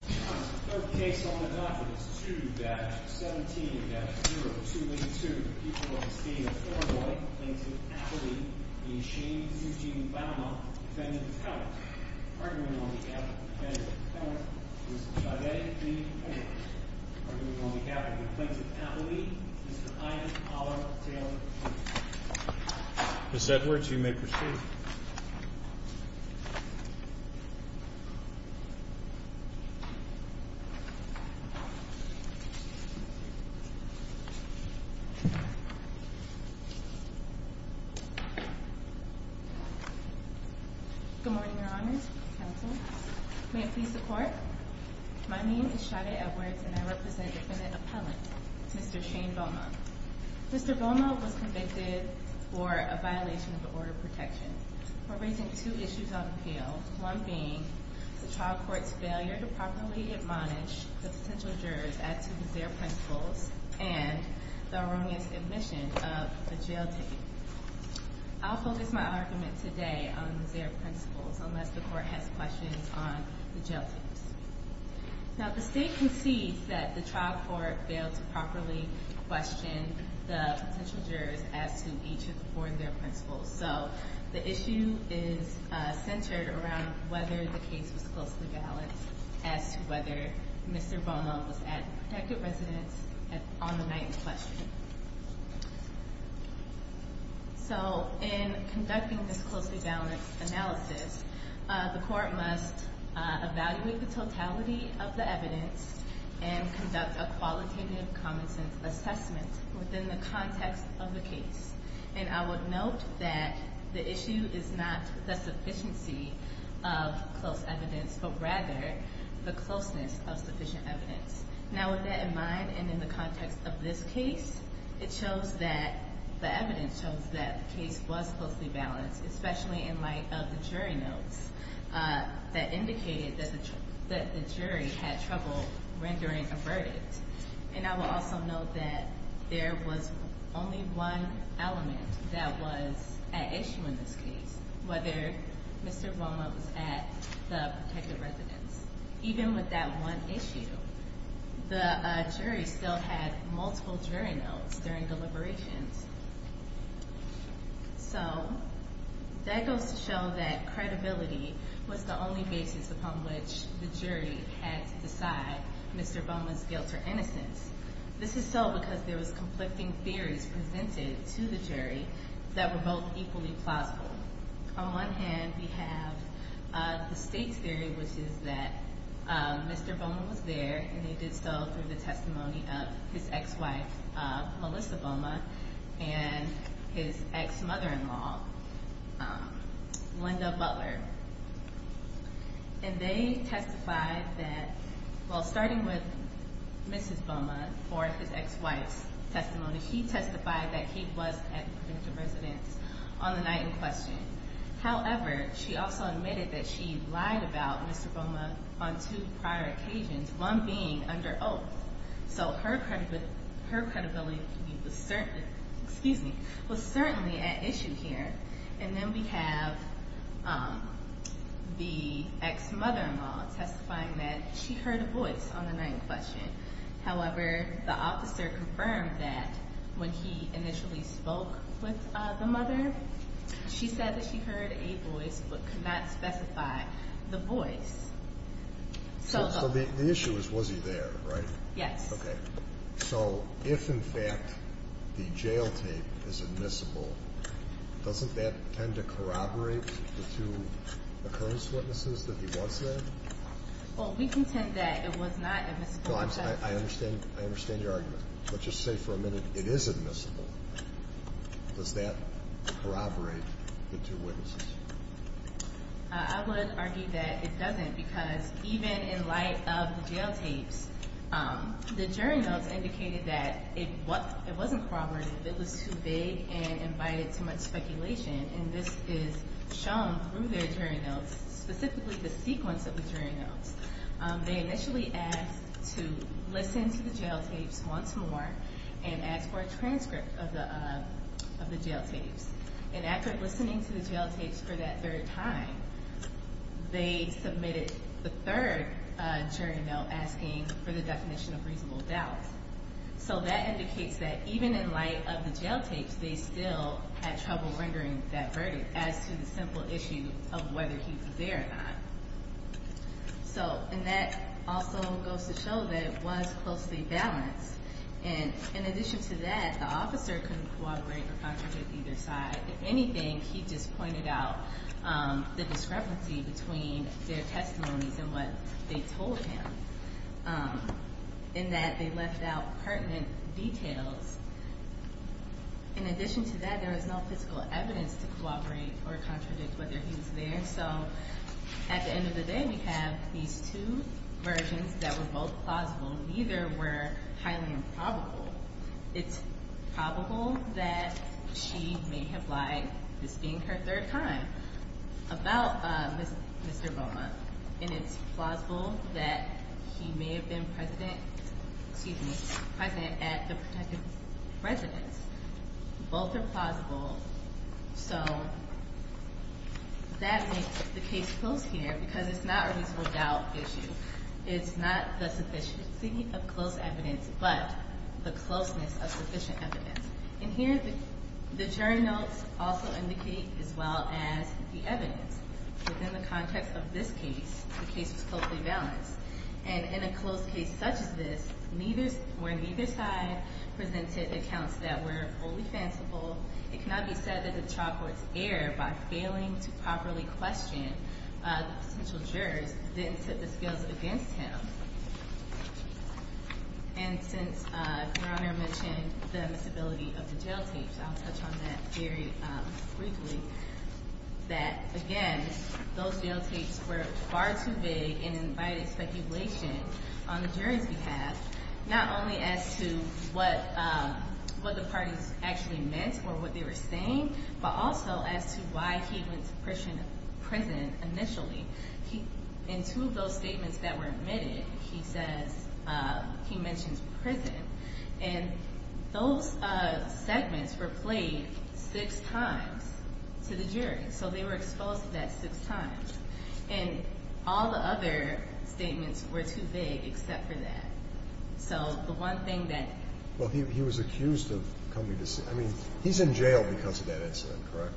The third case on the docket is 2-17-0282, the people of the state of Illinois, plaintiff Appley v. Sheen v. Bouma, defendant of count, arguing on behalf of the defendant of the count, Mr. Chaudet v. Edwards, arguing on behalf of the plaintiff Appley, Mr. Ian Pollard v. Taylor. Ms. Edwards, you may proceed. Ms. Edwards, you may proceed. Good morning, Your Honor, counsel. May it please the Court? My name is Chaudet Edwards, and I represent defendant Appellant, Mr. Shane Bouma. Mr. Bouma was convicted for a violation of the order of protection for raising two issues of appeal, one being the trial court's failure to properly admonish the potential jurors as to the Zaire principles and the erroneous admission of a jail ticket. I'll focus my argument today on the Zaire principles, unless the Court has questions on the jail tickets. Now, the state concedes that the trial court failed to properly question the potential jurors as to each of the four Zaire principles. So, the issue is centered around whether the case was closely balanced as to whether Mr. Bouma was at a protected residence on the night in question. So, in conducting this closely balanced analysis, the Court must evaluate the totality of the evidence and conduct a qualitative common-sense assessment within the context of the case. And I would note that the issue is not the sufficiency of close evidence, but rather the closeness of sufficient evidence. Now, with that in mind, and in the context of this case, it shows that the evidence shows that the case was closely balanced, especially in light of the jury notes that indicated that the jury had trouble rendering a verdict. And I will also note that there was only one element that was at issue in this case, whether Mr. Bouma was at the protected residence. Even with that one issue, the jury still had multiple jury notes during deliberations. So, that goes to show that credibility was the only basis upon which the jury had to decide Mr. Bouma's guilt or innocence. This is so because there was conflicting theories presented to the jury that were both equally plausible. So, on one hand, we have the state's theory, which is that Mr. Bouma was there, and he did so through the testimony of his ex-wife, Melissa Bouma, and his ex-mother-in-law, Linda Butler. And they testified that, well, starting with Mrs. Bouma for his ex-wife's testimony, she testified that he was at the protected residence on the night in question. However, she also admitted that she lied about Mr. Bouma on two prior occasions, one being under oath. So, her credibility was certainly at issue here. And then we have the ex-mother-in-law testifying that she heard a voice on the night in question. However, the officer confirmed that when he initially spoke with the mother, she said that she heard a voice but could not specify the voice. So, the issue is, was he there, right? Yes. Okay. So, if, in fact, the jail tape is admissible, doesn't that tend to corroborate the two occurrence witnesses that he was there? Well, we contend that it was not admissible. I understand your argument. But just say for a minute, it is admissible. Does that corroborate the two witnesses? I would argue that it doesn't because even in light of the jail tapes, the jury notes indicated that it wasn't corroborative. It was too vague and invited too much speculation. And this is shown through their jury notes, specifically the sequence of the jury notes. They initially asked to listen to the jail tapes once more and asked for a transcript of the jail tapes. And after listening to the jail tapes for that third time, they submitted the third jury note asking for the definition of reasonable doubt. So, that indicates that even in light of the jail tapes, they still had trouble rendering that verdict as to the simple issue of whether he was there or not. So, and that also goes to show that it was closely balanced. And in addition to that, the officer couldn't corroborate or contradict either side. If anything, he just pointed out the discrepancy between their testimonies and what they told him, in that they left out pertinent details. In addition to that, there was no physical evidence to corroborate or contradict whether he was there. And so, at the end of the day, we have these two versions that were both plausible. Neither were highly improbable. It's probable that she may have lied, this being her third time, about Mr. Boma. And it's plausible that he may have been present at the protected residence. Both are plausible. So, that makes the case close here because it's not a reasonable doubt issue. It's not the sufficiency of close evidence, but the closeness of sufficient evidence. And here, the jury notes also indicate as well as the evidence. Within the context of this case, the case was closely balanced. And in a close case such as this, where neither side presented accounts that were fully fanciful, it cannot be said that the trial court's error by failing to properly question the potential jurors didn't set the scales against him. And since Your Honor mentioned the instability of the jail tapes, I'll touch on that very briefly. Again, those jail tapes were far too big and invited speculation on the jury's behalf, not only as to what the parties actually meant or what they were saying, but also as to why he went to prison initially. In two of those statements that were admitted, he mentions prison. And those segments were played six times to the jury. So, they were exposed to that six times. And all the other statements were too big except for that. So, the one thing that – Well, he was accused of coming to – I mean, he's in jail because of that incident, correct?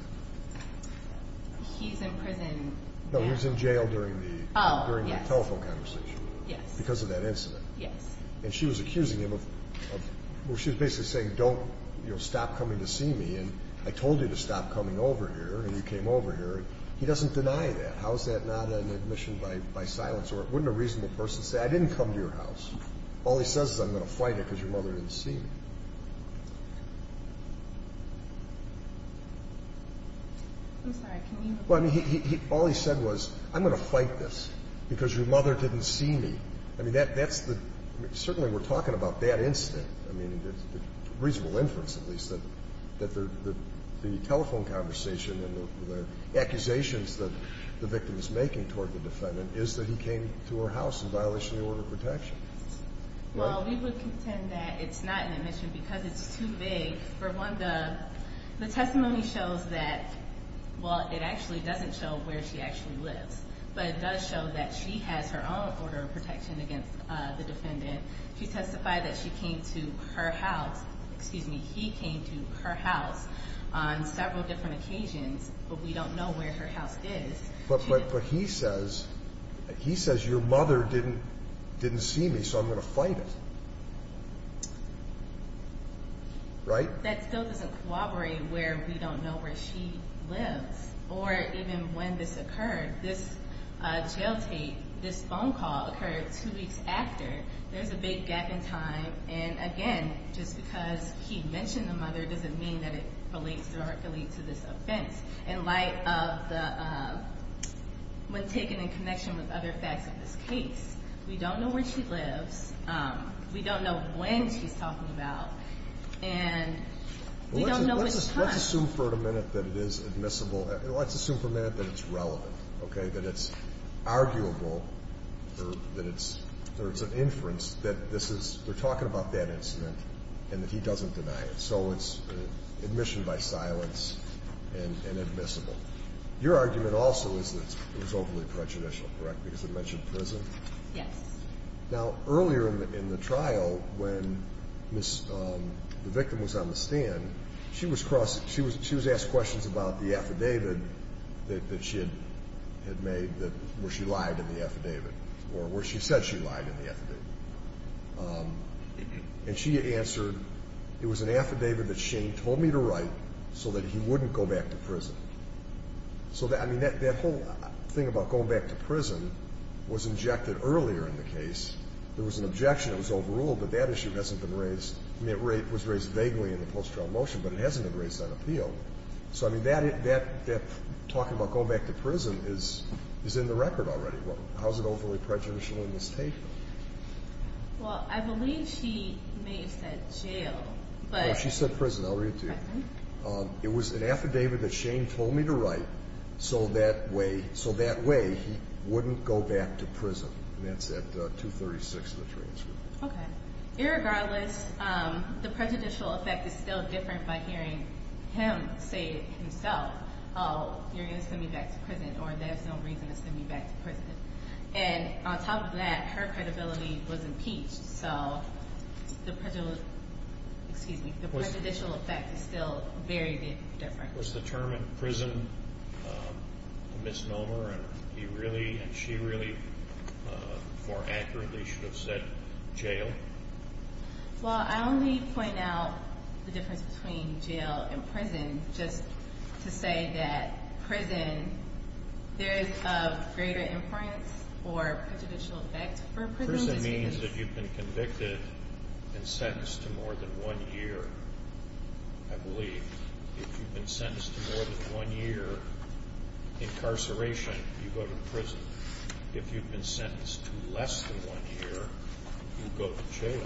He's in prison – No, he was in jail during the telephone conversation. Yes. Because of that incident. Yes. And she was accusing him of – well, she was basically saying, don't – you know, stop coming to see me. And I told you to stop coming over here, and you came over here. He doesn't deny that. How is that not an admission by silence? Or wouldn't a reasonable person say, I didn't come to your house? All he says is, I'm going to fight it because your mother didn't see me. I'm sorry. Can you repeat that? Well, I mean, all he said was, I'm going to fight this because your mother didn't see me. I mean, that's the – certainly we're talking about that incident. I mean, reasonable inference, at least, that the telephone conversation and the accusations that the victim is making toward the defendant is that he came to her house in violation of the order of protection. Well, we would contend that it's not an admission because it's too vague. For one, the testimony shows that – well, it actually doesn't show where she actually lives. But it does show that she has her own order of protection against the defendant. She testified that she came to her house – excuse me, he came to her house on several different occasions, but we don't know where her house is. But he says your mother didn't see me, so I'm going to fight it. Right? That still doesn't corroborate where we don't know where she lives. Or even when this occurred. This jail take, this phone call occurred two weeks after. There's a big gap in time. And, again, just because he mentioned the mother doesn't mean that it relates directly to this offense. In light of the – when taken in connection with other facts of this case, we don't know where she lives. We don't know when she's talking about. And we don't know which time. Let's assume for a minute that it's relevant, okay, that it's arguable, that it's an inference, that this is – they're talking about that incident and that he doesn't deny it. So it's admission by silence and admissible. Your argument also is that it was overly prejudicial, correct, because it mentioned prison? Yes. Now, earlier in the trial, when the victim was on the stand, she was asked questions about the affidavit that she had made where she lied in the affidavit or where she said she lied in the affidavit. And she answered, it was an affidavit that Shane told me to write so that he wouldn't go back to prison. So, I mean, that whole thing about going back to prison was injected earlier in the case. There was an objection that was overruled, but that issue hasn't been raised. I mean, it was raised vaguely in the post-trial motion, but it hasn't been raised on appeal. So, I mean, that talking about going back to prison is in the record already. How is it overly prejudicial in this case? Well, I believe she may have said jail, but – No, she said prison. I'll read it to you. It was an affidavit that Shane told me to write so that way he wouldn't go back to prison. And that's at 236 of the transcript. Okay. Irregardless, the prejudicial effect is still different by hearing him say himself, oh, you're going to send me back to prison, or there's no reason to send me back to prison. And on top of that, her credibility was impeached. So the prejudicial effect is still very different. Was the term in prison a misnomer, and he really and she really more accurately should have said jail? Well, I only point out the difference between jail and prison just to say that prison, there is a greater influence or prejudicial effect for prison. Prison means that you've been convicted and sentenced to more than one year, I believe. If you've been sentenced to more than one year incarceration, you go to prison. If you've been sentenced to less than one year, you go to jail.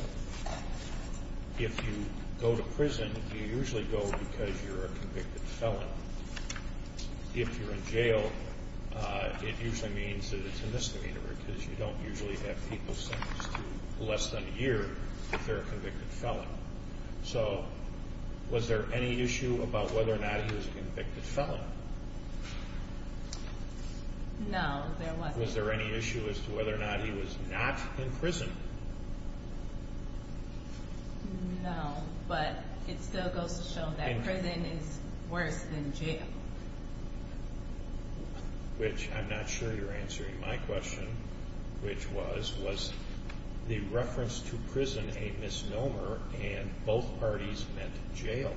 If you go to prison, you usually go because you're a convicted felon. If you're in jail, it usually means that it's a misnomer because you don't usually have people sentenced to less than a year if they're a convicted felon. So was there any issue about whether or not he was a convicted felon? No, there wasn't. Was there any issue as to whether or not he was not in prison? No, but it still goes to show that prison is worse than jail. Which I'm not sure you're answering my question, which was, was the reference to prison a misnomer and both parties meant jail?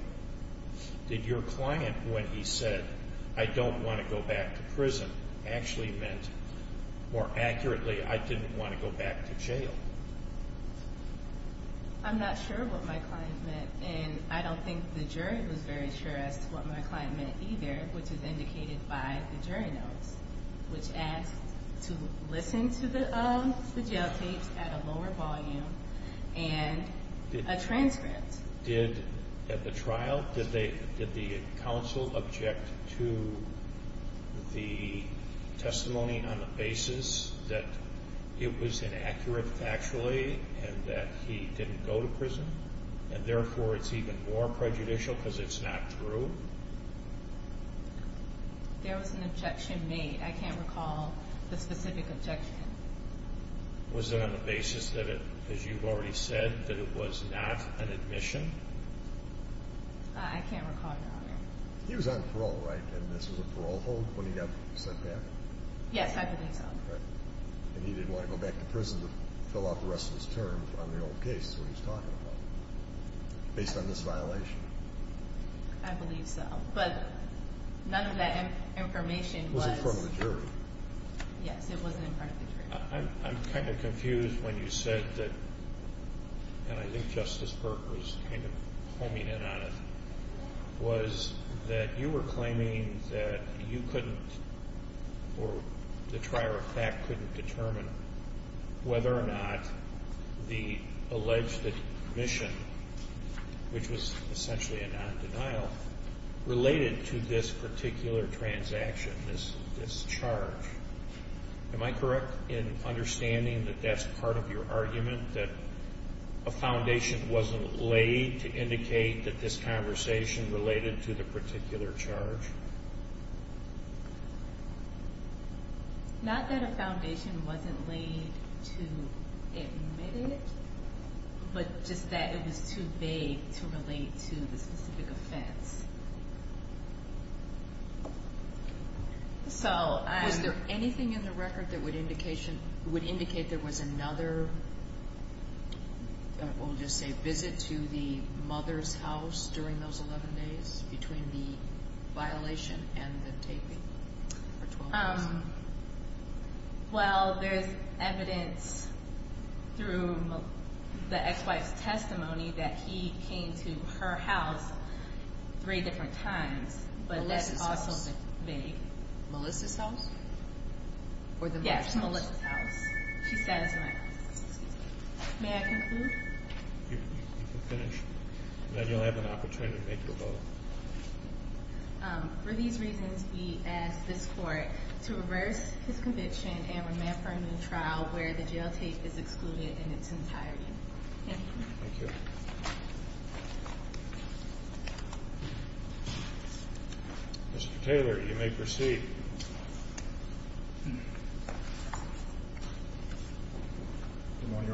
Did your client, when he said, I don't want to go back to prison, actually meant more accurately, I didn't want to go back to jail? I'm not sure what my client meant, and I don't think the jury was very sure as to what my client meant either, which is indicated by the jury notes, which asked to listen to the jail tapes at a lower volume and a transcript. Did, at the trial, did the counsel object to the testimony on the basis that it was inaccurate factually and that he didn't go to prison and therefore it's even more prejudicial because it's not true? There was an objection made. I can't recall the specific objection. Was it on the basis that it, as you've already said, that it was not an admission? I can't recall, Your Honor. He was on parole, right, and this was a parole hold when he got sent back? Yes, I believe so. And he didn't want to go back to prison to fill out the rest of his term on the old case, is what he was talking about, based on this violation? I believe so, but none of that information was. It was in front of the jury. Yes, it wasn't in front of the jury. I'm kind of confused when you said that, and I think Justice Burke was kind of homing in on it, was that you were claiming that you couldn't or the trier of fact couldn't determine whether or not the alleged admission, which was essentially a non-denial, related to this particular transaction, this charge. Am I correct in understanding that that's part of your argument, that a foundation wasn't laid to indicate that this conversation related to the particular charge? Not that a foundation wasn't laid to admit it, but just that it was too vague to relate to the specific offense. Was there anything in the record that would indicate there was another, we'll just say, visit to the mother's house during those 11 days between the violation and the taping for 12 years? Well, there's evidence through the ex-wife's testimony that he came to her house three different times, but that's also vague. Melissa's house? Yes, Melissa's house. She sat at my house. May I conclude? You can finish. Now you'll have an opportunity to make your vote. For these reasons, we ask this court to reverse his conviction and remand for a new trial where the jail tape is excluded in its entirety. Thank you. Mr. Taylor, you may proceed.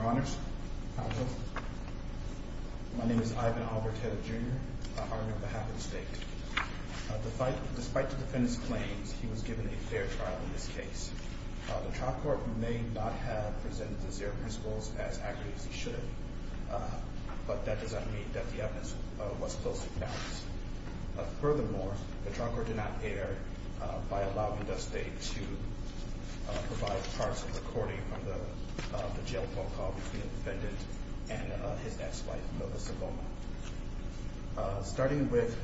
How are you? Hello. My name is Ivan Albert Taylor, Jr. I'm on behalf of the state. Despite the defendant's claims, he was given a fair trial in this case. The trial court may not have presented the zero principles as accurately as they should have, but that does not mean that the evidence was closely balanced. Furthermore, the trial court did not err by allowing the state to provide parts of the recording of the jail phone call between the defendant and his ex-wife, Melissa Bowman. Starting with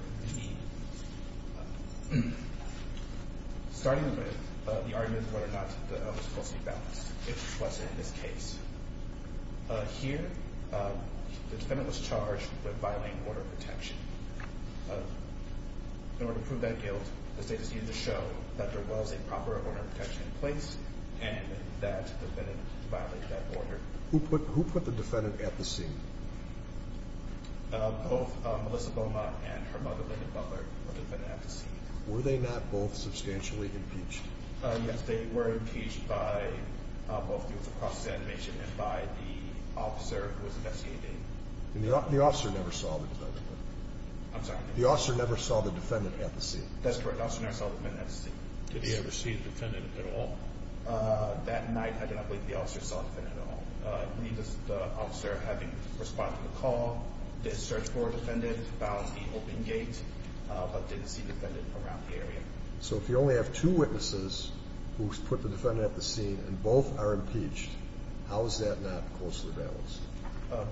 the argument of whether or not it was closely balanced, if it wasn't in this case, here the defendant was charged with violating order of protection. In order to prove that guilt, the state has needed to show that there was a proper order of protection in place and that the defendant violated that order. Who put the defendant at the scene? Both Melissa Bowman and her mother, Linda Butler, were the defendants at the scene. Were they not both substantially impeached? Yes, they were impeached by both the Office of Process Animation and by the officer who was investigating. The officer never saw the defendant. I'm sorry? The officer never saw the defendant at the scene. That's correct. The officer never saw the defendant at the scene. Did he ever see the defendant at all? That night, I do not believe the officer saw the defendant at all. I believe the officer, having responded to the call, did search for a defendant, found the open gate, but didn't see the defendant around the area. So if you only have two witnesses who put the defendant at the scene and both are impeached, how is that not closely balanced?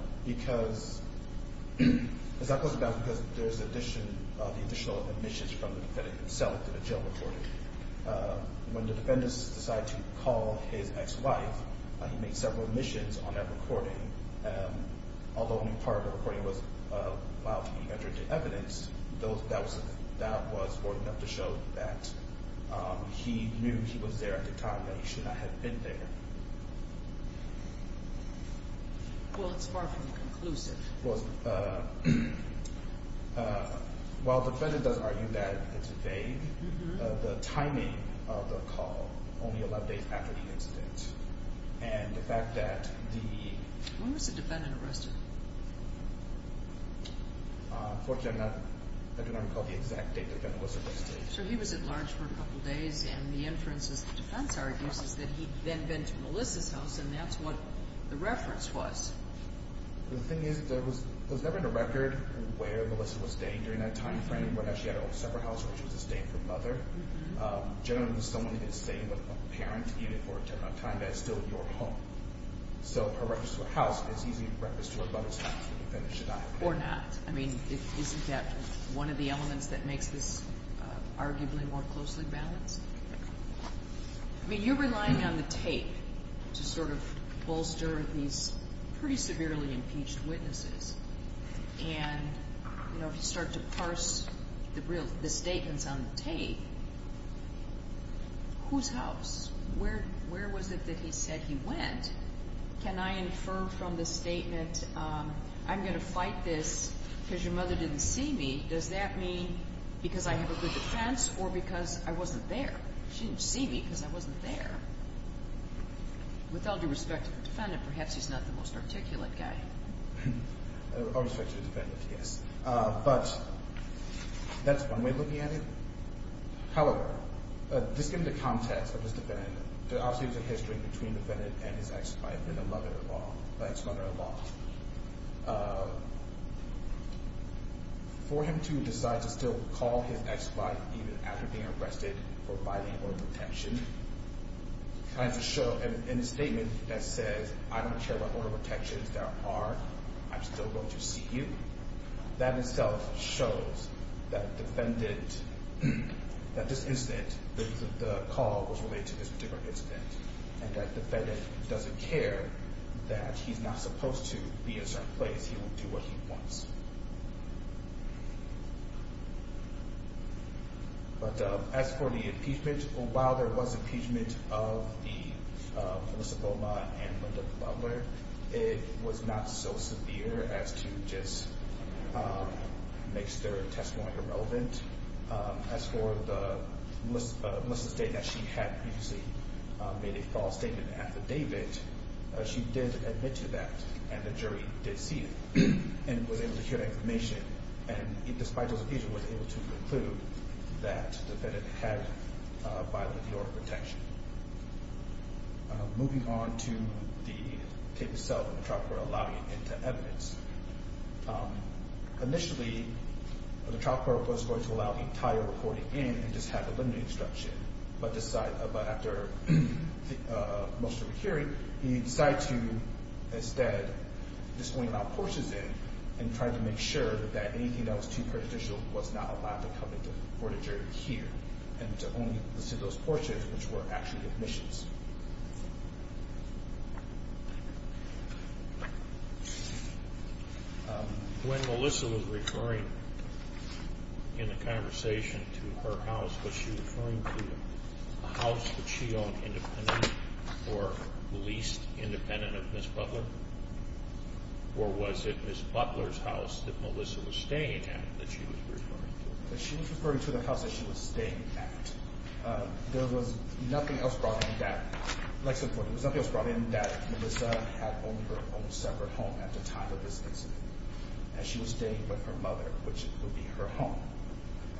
It's not closely balanced because there's additional admissions from the defendant himself to the jail recording. When the defendants decided to call his ex-wife, he made several admissions on that recording. Although only part of the recording was while he entered the evidence, that was more than enough to show that he knew he was there at the time and that he should not have been there. Well, it's far from conclusive. While the defendant does argue that it's vague, the timing of the call, only 11 days after the incident, and the fact that the... When was the defendant arrested? Unfortunately, I do not recall the exact date the defendant was arrested. So he was at large for a couple of days, and the inferences the defense argues is that he then went to Melissa's house, and that's what the reference was. The thing is that there was never a record where Melissa was staying during that time frame, whether she had a separate house or she was staying with her mother. Generally, when someone is staying with a parent, even for a term of time, that's still your home. So her reference to her house is usually a reference to her mother's house. Or not. I mean, isn't that one of the elements that makes this arguably more closely balanced? I mean, you're relying on the tape to sort of bolster these pretty severely impeached witnesses. And, you know, if you start to parse the statements on the tape, whose house? Where was it that he said he went? Can I infer from the statement, I'm going to fight this because your mother didn't see me, does that mean because I have a good defense or because I wasn't there? She didn't see me because I wasn't there. With all due respect to the defendant, perhaps he's not the most articulate guy. With all due respect to the defendant, yes. But that's one way of looking at it. However, just given the context of this defendant, obviously there's a history between the defendant and his ex-wife and the mother-in-law. The ex-mother-in-law. For him to decide to still call his ex-wife even after being arrested for violating order of protection, in a statement that says, I don't care what order of protections there are, I'm still going to see you, that in itself shows that defendant, that this incident, the call was related to this particular incident. And that the defendant doesn't care that he's not supposed to be a certain place. He will do what he wants. But as for the impeachment, while there was impeachment of Melissa Beaumont and Linda Butler, it was not so severe as to just make their testimony irrelevant. And as for Melissa's statement that she had previously made a false statement in the affidavit, she did admit to that and the jury did see it and was able to hear that information. And despite those occasions, was able to conclude that the defendant had violated the order of protection. Moving on to the tape itself and the trial court allowing it into evidence. Initially, the trial court was going to allow the entire recording in and just have the limited instruction. But after most of the hearing, he decided to instead just bring out portions in and try to make sure that anything that was too prejudicial was not allowed to come into court of jury here. And to only listen to those portions which were actually admissions. When Melissa was referring in the conversation to her house, was she referring to a house that she owned independent or leased independent of Ms. Butler? Or was it Ms. Butler's house that Melissa was staying at that she was referring to? She was referring to the house that she was staying at. There was nothing else brought in that Melissa had owned her own separate home at the time of this incident as she was staying with her mother, which would be her home.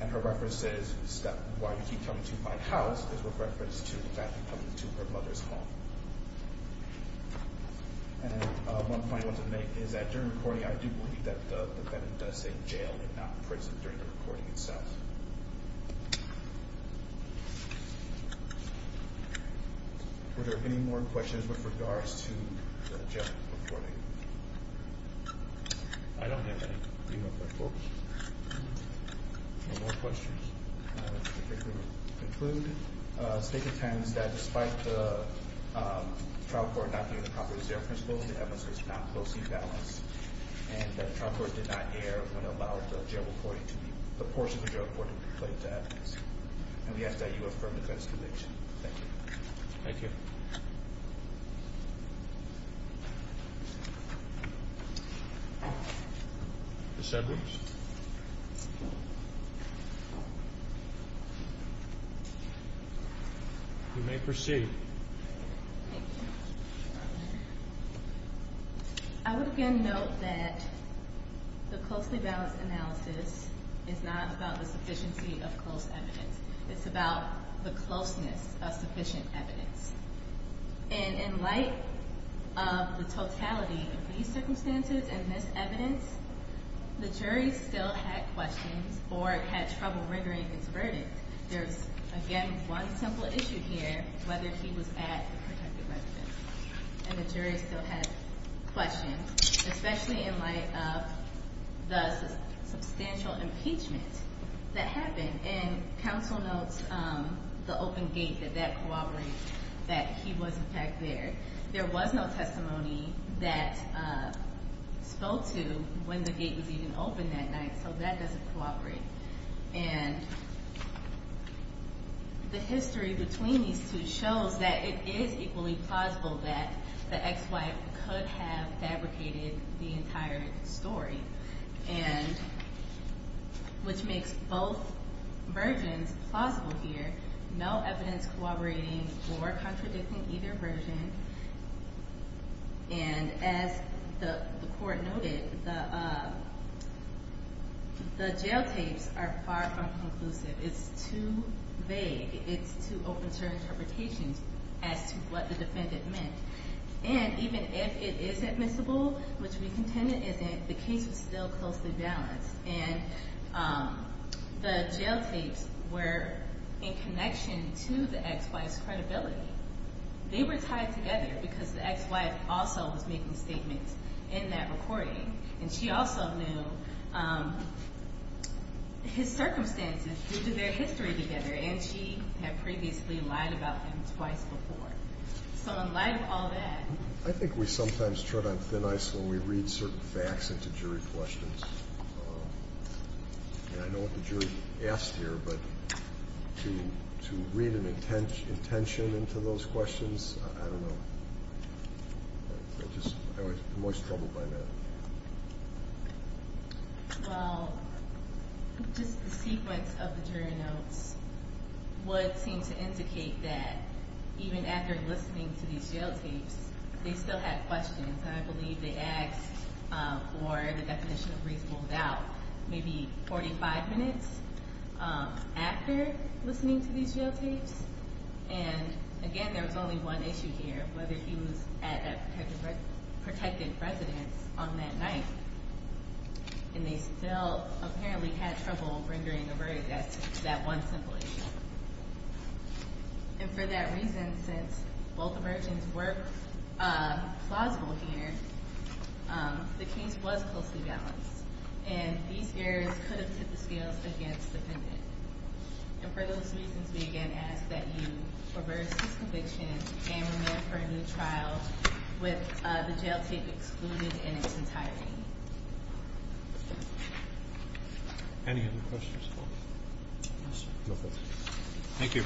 And her reference is, why do you keep coming to my house? Is with reference to in fact coming to her mother's home. And one final note to make is that during recording, I do believe that the defendant does say jail and not prison during the recording itself. Were there any more questions with regards to the jail recording? I don't have any. No more questions? I think we will conclude. The state contends that despite the trial court not giving the properties their principles, the evidence was not closely balanced. And the trial court did not err when it allowed the portion of the jail recording to be played to evidence. And we ask that you affirm the defense's conviction. Thank you. Thank you. The sedatives? You may proceed. Thank you. I would again note that the closely balanced analysis is not about the sufficiency of close evidence. It's about the closeness of sufficient evidence. And in light of the totality of these circumstances and this evidence, the jury still had questions or had trouble rendering its verdict. There's, again, one simple issue here, whether he was at the protected residence. And the jury still had questions, especially in light of the substantial impeachment that happened. And counsel notes the open gate, that that cooperates, that he was in fact there. There was no testimony that spoke to when the gate was even open that night, so that doesn't cooperate. And the history between these two shows that it is equally plausible that the ex-wife could have fabricated the entire story, which makes both versions plausible here, no evidence corroborating or contradicting either version. And as the court noted, the jail tapes are far from conclusive. It's too vague. It's too open to interpretations as to what the defendant meant. And even if it is admissible, which we contend it isn't, the case was still closely balanced. And the jail tapes were in connection to the ex-wife's credibility. They were tied together because the ex-wife also was making statements in that recording, and she also knew his circumstances due to their history together, and she had previously lied about him twice before. So in light of all that. I think we sometimes tread on thin ice when we read certain facts into jury questions. And I know what the jury asked here, but to read an intention into those questions, I don't know. I'm always troubled by that. Well, just the sequence of the jury notes would seem to indicate that even after listening to these jail tapes, they still had questions, and I believe they asked for the definition of reasonable doubt maybe 45 minutes after listening to these jail tapes. And, again, there was only one issue here, whether he was at that protected residence on that night. And they still apparently had trouble rendering a verdict. That's that one simple issue. And for that reason, since both versions were plausible here, the case was closely balanced, and these areas could have hit the scales against the pendant. And for those reasons, we again ask that you reverse these convictions and remand for a new trial with the jail tape excluded in its entirety. Any other questions? No questions. Thank you.